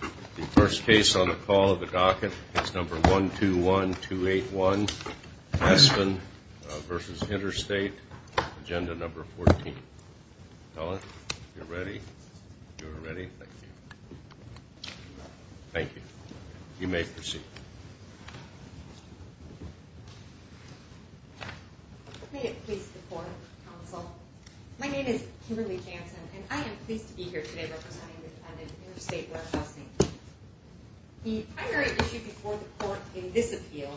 The first case on the call of the docket is number 121281, Aspen v. Interstate, Agenda No. 14. Helen, if you're ready, thank you. Thank you. You may proceed. May it please the court, counsel. My name is Kimberly Jansen, and I am pleased to be here today representing the defendant, Interstate Warehousing. The primary issue before the court in this appeal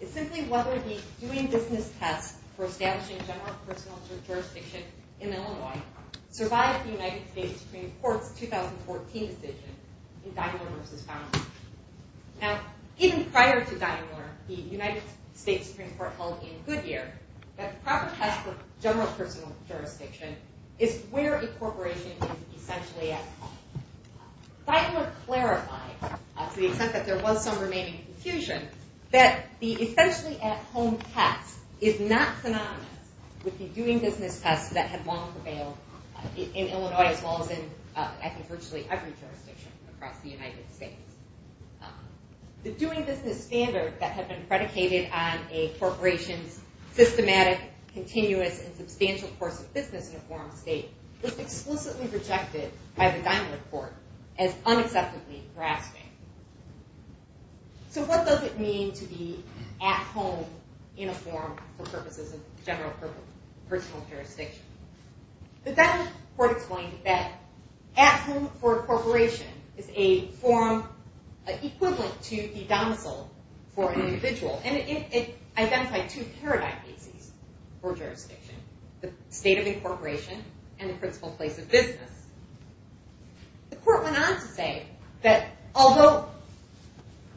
is simply whether the doing business test for establishing a general personal jurisdiction in Illinois survived the United States Supreme Court's 2014 decision in Dynamore v. Dynamore. Now, even prior to Dynamore, the United States Supreme Court held in Goodyear that the proper test of general personal jurisdiction is where a corporation is essentially at home. Dynamore clarified, to the extent that there was some remaining confusion, that the essentially at home test is not synonymous with the doing business test that had long prevailed in Illinois as well as in, I think, virtually every jurisdiction across the United States. The doing business standard that had been predicated on a corporation's systematic, continuous, and substantial course of business in a foreign state was explicitly projected by the Dynamore court as unacceptably grasping. So what does it mean to be at home in a forum for purposes of general personal jurisdiction? The Dynamore court explained that at home for a corporation is a forum equivalent to the domicile for an individual, and it identified two paradigm bases for jurisdiction, the state of incorporation and the principal place of business. The court went on to say that although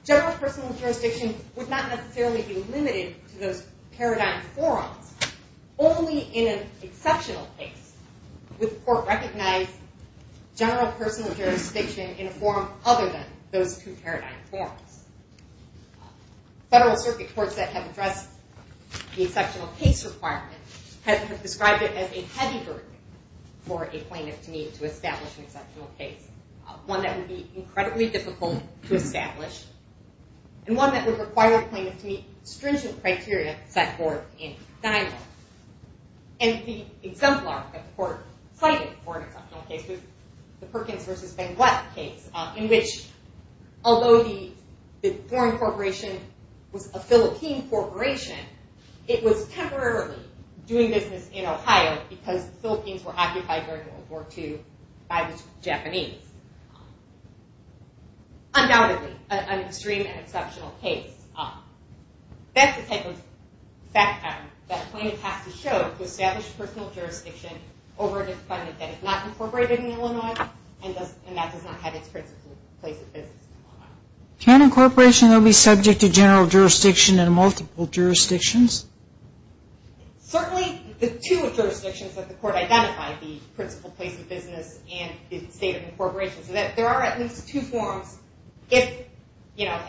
general personal jurisdiction would not necessarily be limited to those paradigm forums, only in an exceptional case would the court recognize general personal jurisdiction in a forum other than those two paradigm forums. Federal circuit courts that have addressed the exceptional case requirement have described it as a heavy burden for a plaintiff to meet to establish an exceptional case, one that would be incredibly difficult to establish, and one that would require a plaintiff to meet stringent criteria set forth in Dynamore. And the exemplar that the court cited for an exceptional case was the Perkins v. Benguet case, in which although the foreign corporation was a Philippine corporation, it was temporarily doing business in Ohio because the Philippines were occupied during World War II by the Japanese. Undoubtedly an extreme and exceptional case. That's the type of fact pattern that a plaintiff has to show to establish personal jurisdiction over a defendant that is not incorporated in Illinois and that does not have its principal place of business in Illinois. Can a corporation be subject to general jurisdiction in multiple jurisdictions? Certainly the two jurisdictions that the court identified, the principal place of business and the state of incorporation, so that there are at least two forms. If, you know,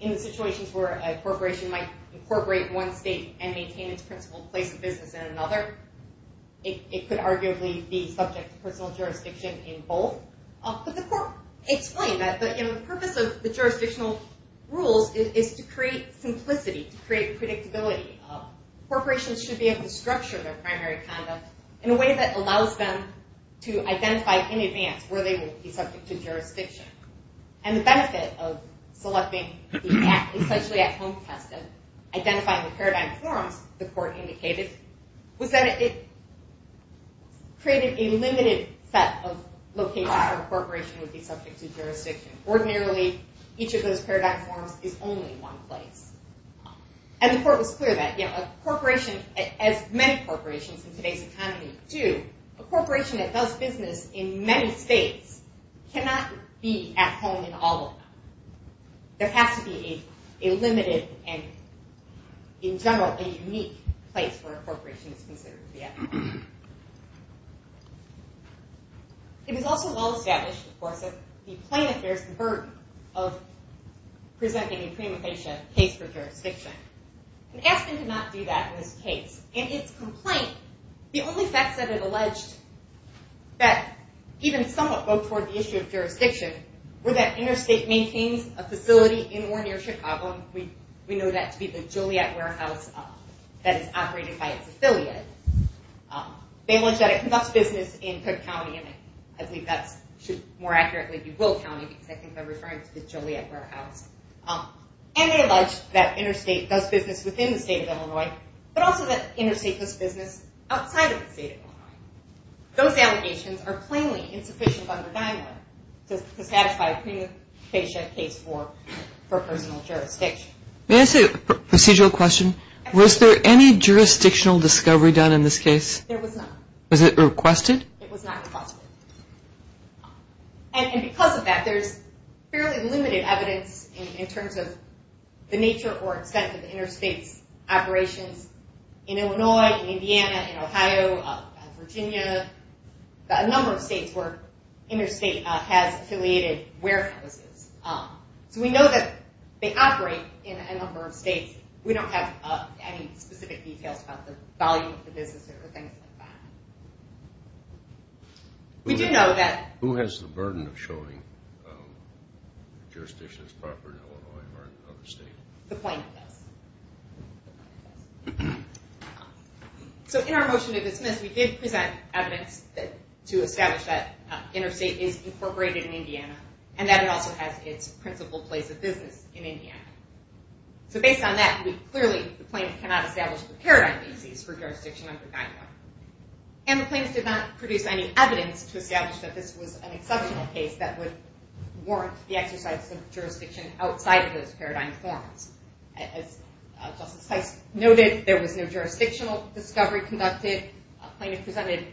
in the situations where a corporation might incorporate one state and maintain its principal place of business in another, it could arguably be subject to personal jurisdiction in both. But the court explained that the purpose of the jurisdictional rules is to create simplicity, to create predictability. Corporations should be able to structure their primary conduct in a way that allows them to identify in advance where they will be subject to jurisdiction. And the benefit of selecting, especially at home testing, identifying the paradigm forms the court indicated, was that it created a limited set of locations where a corporation would be subject to jurisdiction. Ordinarily, each of those paradigm forms is only one place. And the court was clear that, you know, a corporation, as many corporations in today's economy do, a corporation that does business in many states cannot be at home in all of them. There has to be a limited and, in general, a unique place where a corporation is considered to be at home. It was also well established, of course, that the plain affairs burden of presenting a prima facie case for jurisdiction. And Aspen did not do that in this case. In its complaint, the only facts that it alleged that even somewhat go toward the issue of a facility in or near Chicago, we know that to be the Joliet Warehouse that is operated by its affiliate. They allege that it conducts business in Cook County, and I believe that should more accurately be Will County, because I think they're referring to the Joliet Warehouse. And they allege that Interstate does business within the state of Illinois, but also that Interstate does business outside of the state of Illinois. Those allegations are plainly to satisfy a prima facie case for personal jurisdiction. May I ask a procedural question? Was there any jurisdictional discovery done in this case? There was not. Was it requested? It was not requested. And because of that, there's fairly limited evidence in terms of the nature or extent of the Interstate's operations in Illinois, in Indiana, in Ohio, in Virginia, a number of states where Interstate has affiliated warehouses. So we know that they operate in a number of states. We don't have any specific details about the volume of the business or things like that. We do know that... Who has the burden of showing the jurisdiction's property in Illinois or another state? The plaintiff does. So in our motion to dismiss, we did present evidence to establish that Interstate is incorporated in Indiana, and that it also has its principal place of business in Indiana. So based on that, we clearly, the plaintiff cannot establish a paradigm basis for jurisdiction under NYDA. And the plaintiff did not produce any evidence to establish that this was an exceptional case that would warrant the exercise of jurisdiction outside of those paradigm forms. As Justice Heist noted, there was no jurisdictional discovery conducted. The plaintiff presented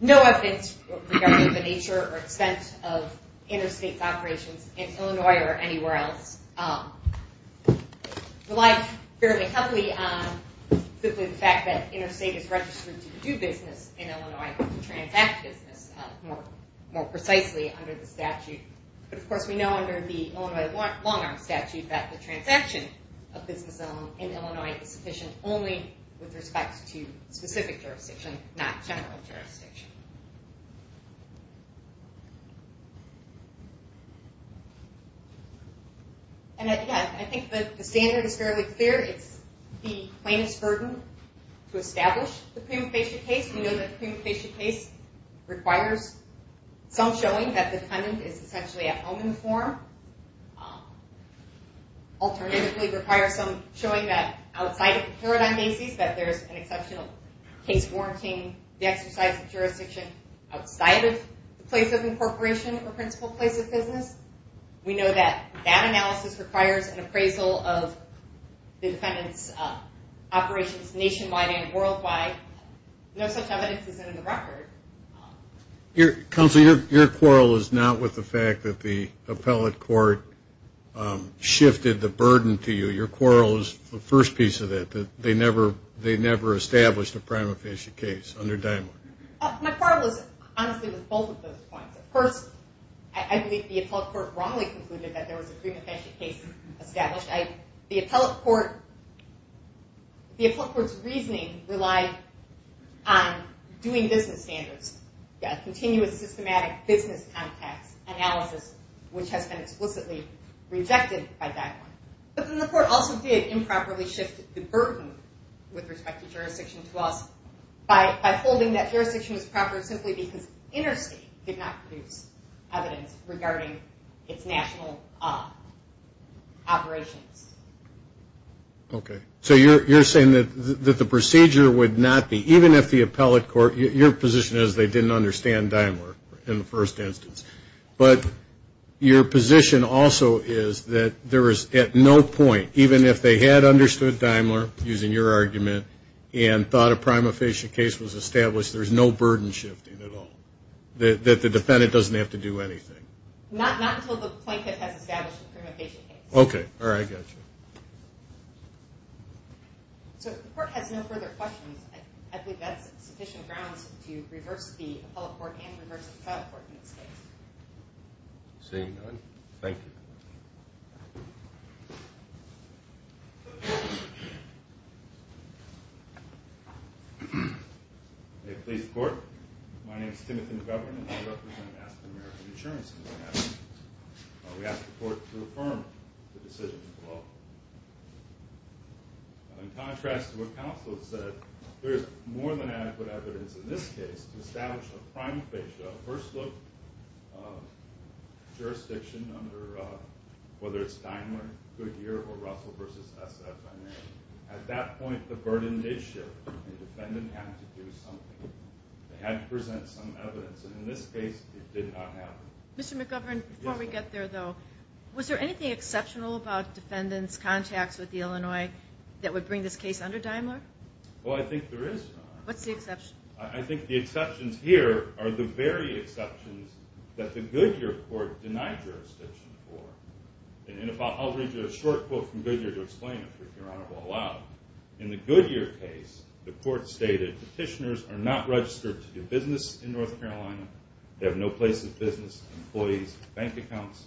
no evidence regarding the nature or extent of Interstate's operations in Illinois or anywhere else. It relied fairly heavily on simply the fact that Interstate is registered to do business in Illinois, to transact business, more precisely, under the statute. But of course, we know under the Illinois Long-Arm Statute that the transaction of business in Illinois is sufficient only with respect to specific jurisdiction, not general jurisdiction. And I think the standard is fairly clear. It's the plaintiff's burden to establish the prima facie case. We know that the prima facie case requires some showing that the defendant is essentially at home in the form. Alternatively, it requires some showing that outside of the paradigm basis, that there's an exceptional case warranting the exercise of jurisdiction outside of the place of incorporation or principal place of business. We know that that analysis requires an appraisal of the defendant's operations nationwide and not much evidence is in the record. Counsel, your quarrel is not with the fact that the appellate court shifted the burden to you. Your quarrel is the first piece of that, that they never established a prima facie case under Dymark. My quarrel is honestly with both of those points. First, I believe the appellate court wrongly concluded that there was a prima facie case established. The appellate court's reasoning relied on doing business standards, continuous systematic business context analysis, which has been explicitly rejected by Dymark. But then the court also did improperly shift the burden with respect to jurisdiction to us by holding that jurisdiction was proper simply because interstate did not produce evidence regarding its national operations. Okay. So you're saying that the procedure would not be, even if the appellate court, your position is they didn't understand Dymark in the first instance. But your position also is that there is at no point, even if they had understood Dymark, using your argument, and thought a prima facie case was established, there's no burden shifting at all. That the defendant doesn't have to do anything. Not until the plaintiff has established a prima facie case. Okay. All right. Gotcha. So if the court has no further questions, I believe that's sufficient grounds to reverse the appellate court and reverse the trial court in this case. Seeing none, thank you. May it please the court. My name is Timothy McGovern and I represent Aston American Insurance in Manhattan. We ask the court to affirm the decision as well. In contrast to what counsel said, there is more than adequate evidence in this case to establish a prima facie, a first look, jurisdiction under whether it's Dymark, Goodyear, or Russell versus SFMA. At that point, the burden did shift. The defendant had to do something. They had to present some evidence. And in this case, it did not happen. Mr. McGovern, before we get there, though, was there anything exceptional about defendants' contacts with the Illinois that would bring this case under Dymark? Well, I think there is. What's the exception? I think the exceptions here are the very exceptions that the Goodyear court denied jurisdiction for. And I'll read you a short quote from Goodyear to explain it, if your Honor will allow it. In the Goodyear case, the court stated petitioners are not registered to do business in North Carolina. They have no place of business, employees, bank accounts.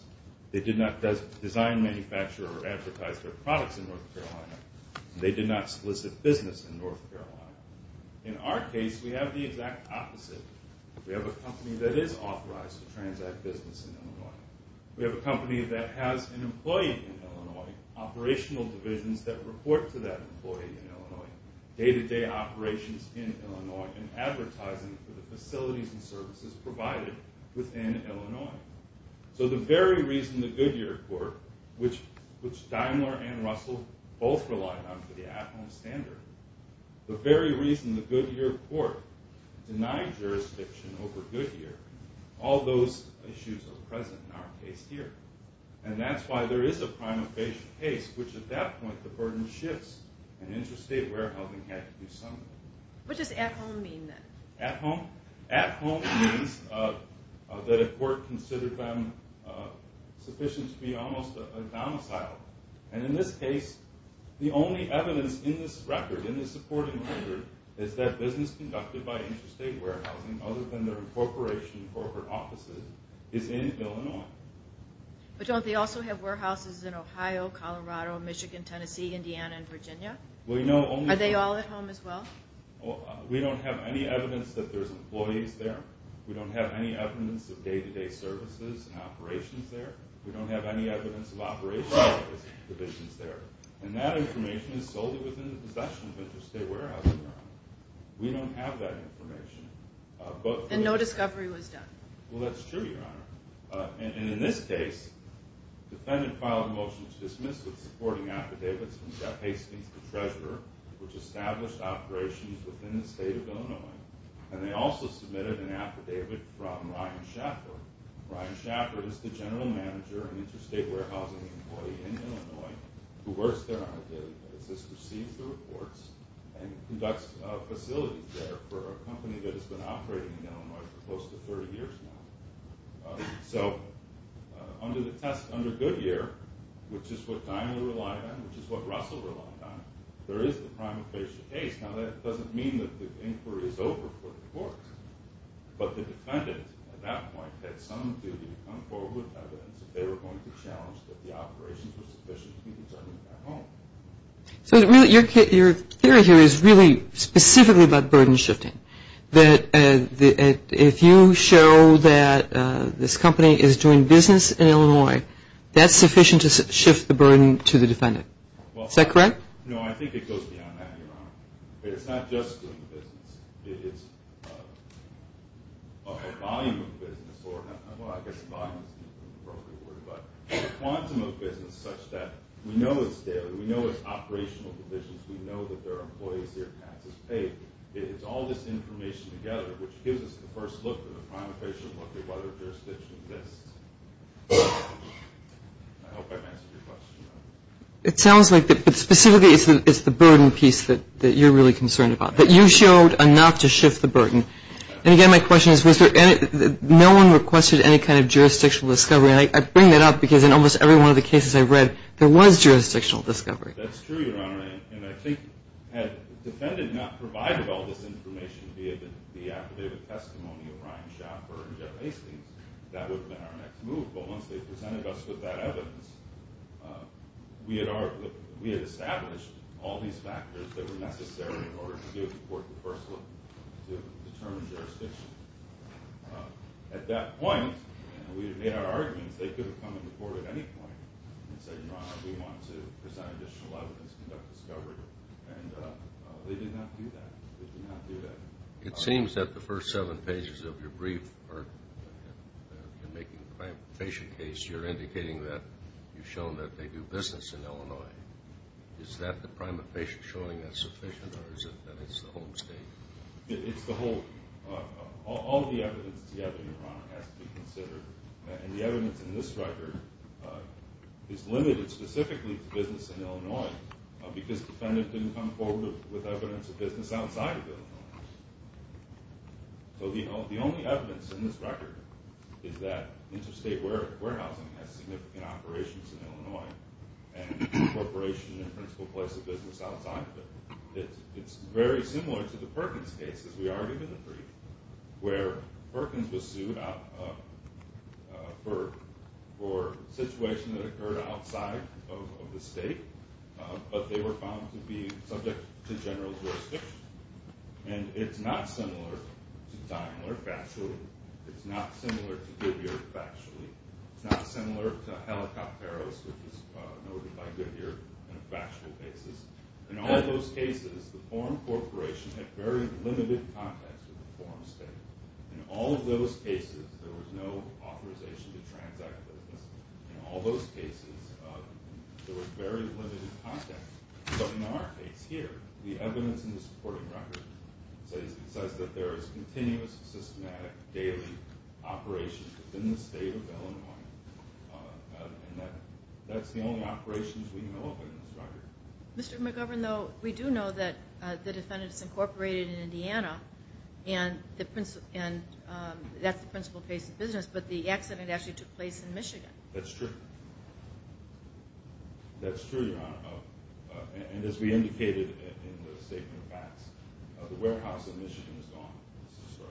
They did not design, manufacture, or advertise their products in North Carolina. They did not solicit business in North Carolina. In our case, we have the exact opposite. We have a company that is authorized to transact business in Illinois. We have a company that has an employee in Illinois, operational divisions that report to that employee in Illinois, day-to-day operations in Illinois, and advertising for the facilities and services provided within Illinois. So the very reason the Goodyear court, which Dymark and Russell both relied on for the at-home standard, the very reason the Goodyear court denied jurisdiction over Goodyear, all those issues are present in our case here. And that's why there is a prima facie case, which at that point the burden shifts, and interstate warehousing had to do something. What does at-home mean, then? At-home? At-home means that a court considered them sufficient to be almost a domicile. And in this case, the only evidence in this record, in this supporting record, is that business conducted by interstate warehousing, other than their incorporation in corporate offices, is in Illinois. But don't they also have warehouses in Ohio, Colorado, Michigan, Tennessee, Indiana, and Virginia? Are they all at home as well? We don't have any evidence that there's employees there. We don't have any evidence of day-to-day services and operations there. We don't have any evidence of operational divisions there. And that information is solely within the possession of interstate warehousing. We don't have that information. And no discovery was done. Well, that's true, Your Honor. And in this case, the defendant filed a motion to dismiss its supporting affidavits from Jeff Hastings, the treasurer, which established operations within the state of Illinois. And they also submitted an affidavit from Ryan Schaffer. Ryan Schaffer is the general manager and interstate warehousing employee in Illinois who works there on a daily basis, receives the reports, and conducts facilities there for a company that has been operating in Illinois for close to 30 years now. So under the test, under Goodyear, which is what Dinah relied on, which is what Russell relied on, there is the prime occasion case. Now, that doesn't mean that the inquiry is over for the court. But the defendant at that point had some duty to come forward with evidence that they were So your theory here is really specifically about burden shifting, that if you show that this company is doing business in Illinois, that's sufficient to shift the burden to the defendant. Is that correct? No, I think it goes beyond that, Your Honor. It's not just doing business. It's a volume of business. Well, I guess volume is a broken word, but a quantum of business such that we know it's operational provisions, we know that there are employees here, taxes paid. It's all this information together, which gives us the first look at the prime occasion, what the weather jurisdiction is. I hope I've answered your question. It sounds like it. But specifically, it's the burden piece that you're really concerned about, that you showed enough to shift the burden. And again, my question is, no one requested any kind of jurisdictional discovery. And I bring that up because in almost every one of the cases I've read, there was jurisdictional discovery. That's true, Your Honor. And I think had the defendant not provided all this information, be it the affidavit testimony of Ryan Schaffer and Jeff Hastings, that would have been our next move. But once they presented us with that evidence, we had established all these factors that were necessary in order to give the court the first look to determine jurisdiction. At that point, we had made our arguments, they could have come to the court at any point and said, Your Honor, we want to present additional evidence to conduct discovery. And they did not do that. They did not do that. It seems that the first seven pages of your brief are making a prime occasion case. Is that the prime occasion showing that's sufficient or is it that it's the whole statement? It's the whole. All of the evidence together, Your Honor, has to be considered. And the evidence in this record is limited specifically to business in Illinois because the defendant didn't come forward with evidence of business outside of Illinois. So the only evidence in this record is that interstate warehousing has significant operations in Illinois. And corporation and principal place of business outside of it. It's very similar to the Perkins case, as we argued in the brief, where Perkins was sued for a situation that occurred outside of the state, but they were found to be subject to general jurisdiction. And it's not similar to Daimler factually. It's not similar to Goodyear factually. It's not similar to Helicopteros, which is noted by Goodyear on a factual basis. In all those cases, the foreign corporation had very limited contact with the foreign state. In all of those cases, there was no authorization to transact with us. In all those cases, there was very limited contact. But in our case here, the evidence in this record says that there is continuous, systematic daily operations within the state of Illinois. And that's the only operations we know of in this record. Mr. McGovern, though, we do know that the defendant is incorporated in Indiana, and that's the principal place of business, but the accident actually took place in Michigan. That's true. That's true, Your Honor. And as we indicated in the statement of facts, the warehouse in Michigan is gone. It's destroyed.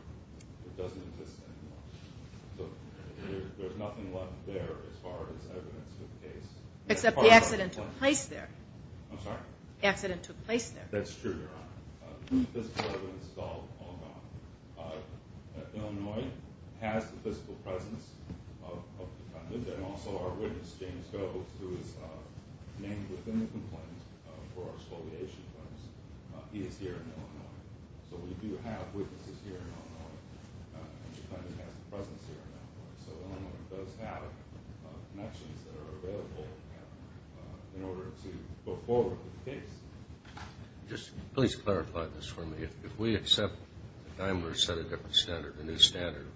It doesn't exist anymore. So there's nothing left there as far as evidence to the case. Except the accident took place there. I'm sorry? The accident took place there. That's true, Your Honor. The physical evidence is all gone. Illinois has the physical presence of the defendant and also our witness, James Goetz, who is named within the complaint for our exploitation claims. He is here in Illinois. So we do have witnesses here in Illinois, and the defendant has a presence here in Illinois. So Illinois does have connections that are available in order to go forward with the case. Just please clarify this for me. If we accept that Daimler set a different standard, a new standard,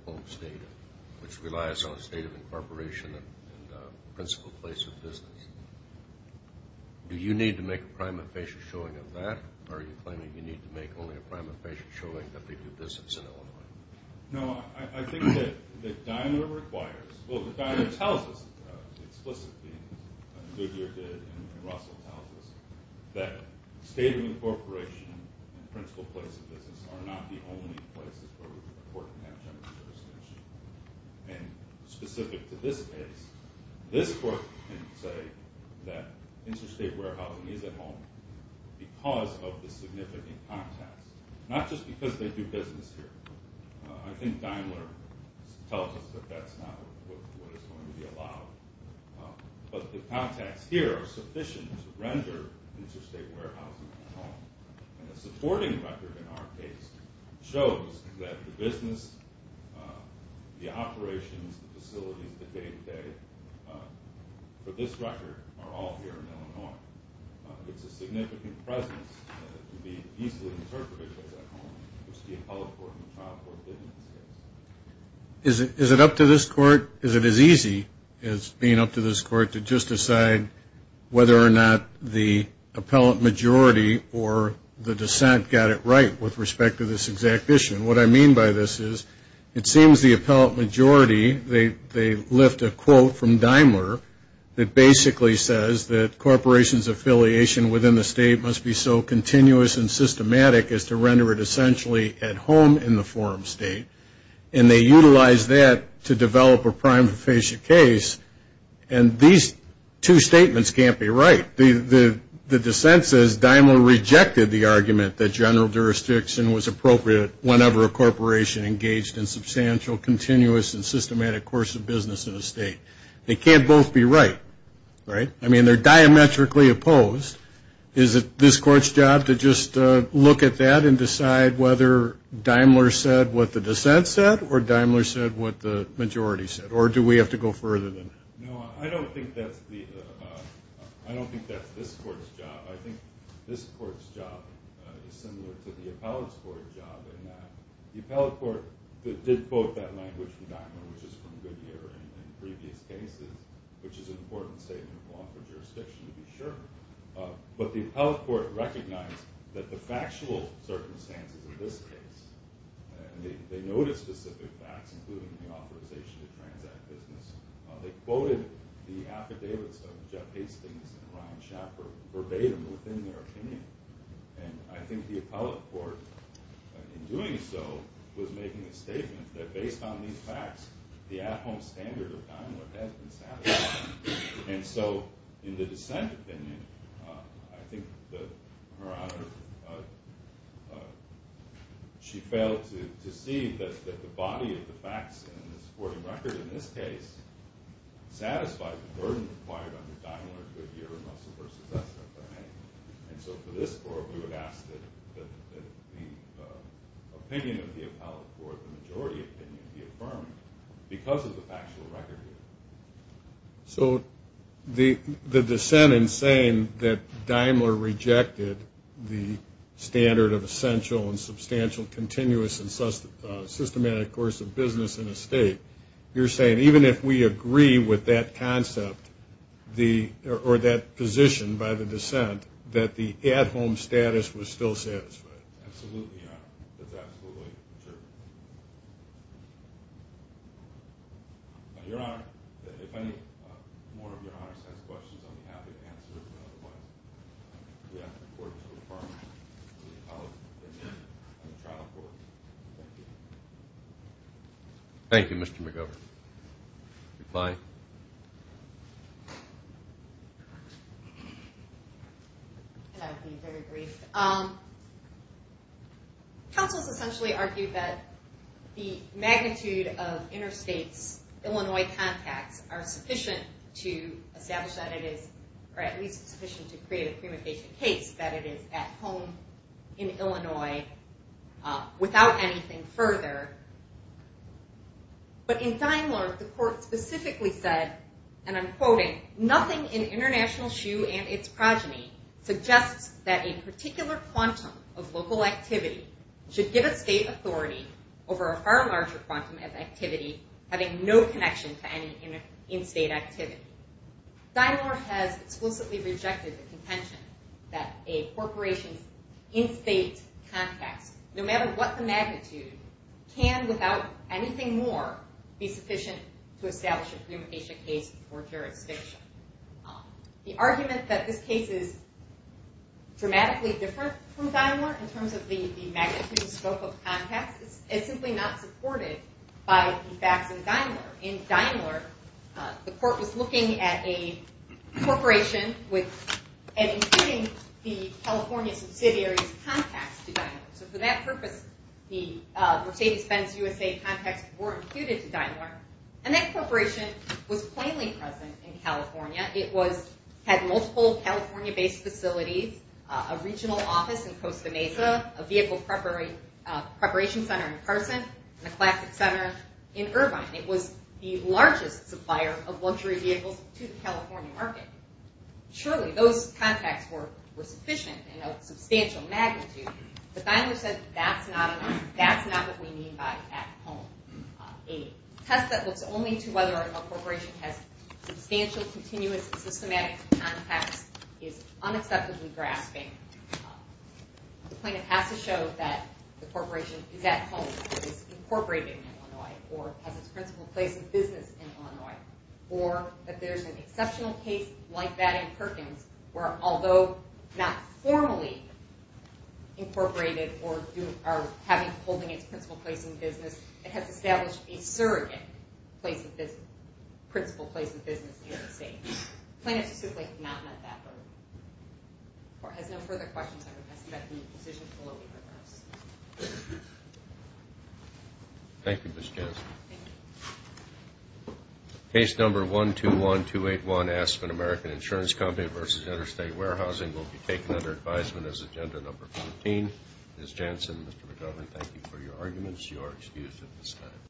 which relies on a state of incorporation and principal place of business, do you need to make a prime official showing of that, or are you claiming you need to make only a prime official showing that they do business in Illinois? No, I think that Daimler requires, well, Daimler tells us explicitly, and Goetz here did, and Russell tells us, that state of incorporation and principal place of business are not the only places where we can afford to have general jurisdiction. And specific to this case, this court can say that Interstate Warehousing is at home because of the significant contacts, not just because they do business here. I think Daimler tells us that that's not what is going to be allowed. But the contacts here are sufficient to render Interstate Warehousing at home. And the supporting record in our case shows that the business, the operations, the facilities that they pay for this record are all here in Illinois. It's a significant presence to be easily interpreted as at home, which the appellate court and the trial court did in this case. Is it up to this court? Is it as easy as being up to this court to just decide whether or not the appellate majority or the dissent got it right with respect to this exact issue? And what I mean by this is it seems the appellate majority, they lift a quote from Daimler that basically says that corporations affiliation within the state must be so continuous and systematic as to render it essentially at home in the forum state. And they utilize that to develop a prima facie case. And these two statements can't be right. The dissent says Daimler rejected the argument that general jurisdiction was appropriate whenever a corporation engaged in substantial, continuous, and systematic course of business in a state. They can't both be right, right? I mean, they're diametrically opposed. Is it this court's job to just look at that and decide whether Daimler said what the dissent said or Daimler said what the majority said? Or do we have to go further than that? No, I don't think that's this court's job. I think this court's job is similar to the appellate's court job in that the appellate court did vote that language from Daimler, which is from Goodyear in previous cases, which is an important statement of law for jurisdiction to be sure. But the appellate court recognized that the factual circumstances of this case, and they noted specific facts, including the authorization to transact business. They quoted the affidavits of Jeff Hastings and Ryan Schaffer verbatim within their opinion. And I think the appellate court, in doing so, was making a statement that based on these facts, the at-home standard of Daimler has been satisfied. And so in the dissent opinion, I think that Her Honor, she failed to see that the body of the facts in the supporting record in this case satisfied the burden required under Daimler, Goodyear, and Russell v. SFA. And so for this court, we would ask that the opinion of the appellate court, the majority opinion, be affirmed because of the factual record here. So the dissent in saying that Daimler rejected the standard of essential and substantial continuous and systematic course of business in a state, you're saying even if we agree with that concept, or that position by the dissent, that the at-home status was still satisfied? Absolutely, Your Honor. That's absolutely true. Your Honor, if any more of Your Honors has questions, I'll be happy to answer them. Otherwise, we have to report to the department, to the appellate court, and the trial court. Thank you. Thank you, Mr. McGovern. Goodbye. And I'll be very brief. Councils essentially argue that the magnitude of interstates, Illinois contacts, are sufficient to establish that it is, or at least sufficient to create a prima facie case that it is at home in Illinois without anything further. But in Daimler, the court specifically said, and I'm quoting, nothing in International Shoe and its progeny suggests that a particular quantum of local activity should give a state authority over a far larger quantum of activity having no connection to any in-state activity. Daimler has explicitly rejected the contention that a corporation's in-state contacts, no matter what the magnitude, can, without anything more, be sufficient to establish a prima facie case for jurisdiction. The argument that this case is dramatically different from Daimler in terms of the magnitude and scope of contacts is simply not supported by the facts in Daimler. In Daimler, the court was looking at a corporation and including the California subsidiary's contacts to Daimler. So for that purpose, the Mercedes-Benz USA contacts were included to Daimler, and that corporation was plainly present in California. It had multiple California-based facilities, a regional office in Costa Mesa, a vehicle preparation center in Carson, and a classic center in Irvine. It was the largest supplier of luxury vehicles to the California market. Surely, those contacts were sufficient in a substantial magnitude, but Daimler said that's not what we mean by at home. A test that looks only to whether a corporation has substantial, continuous, and systematic contacts is unacceptably grasping. The plaintiff has to show that the corporation is at home, is incorporated in Illinois, or has its principal place of business in Illinois, or that there's an exceptional case like that in Perkins where, although not formally incorporated or holding its principal place in business, it has established a surrogate principal place of business in the United States. The plaintiff specifically has not met that burden. The court has no further questions. I would ask that the decision be lowered in reverse. Thank you, Ms. Johnson. Thank you. Case number 121281, Aspen American Insurance Company v. Interstate Warehousing, will be taken under advisement as agenda number 14. Ms. Johnson, Mr. McGovern, thank you for your arguments. You are excused at this time.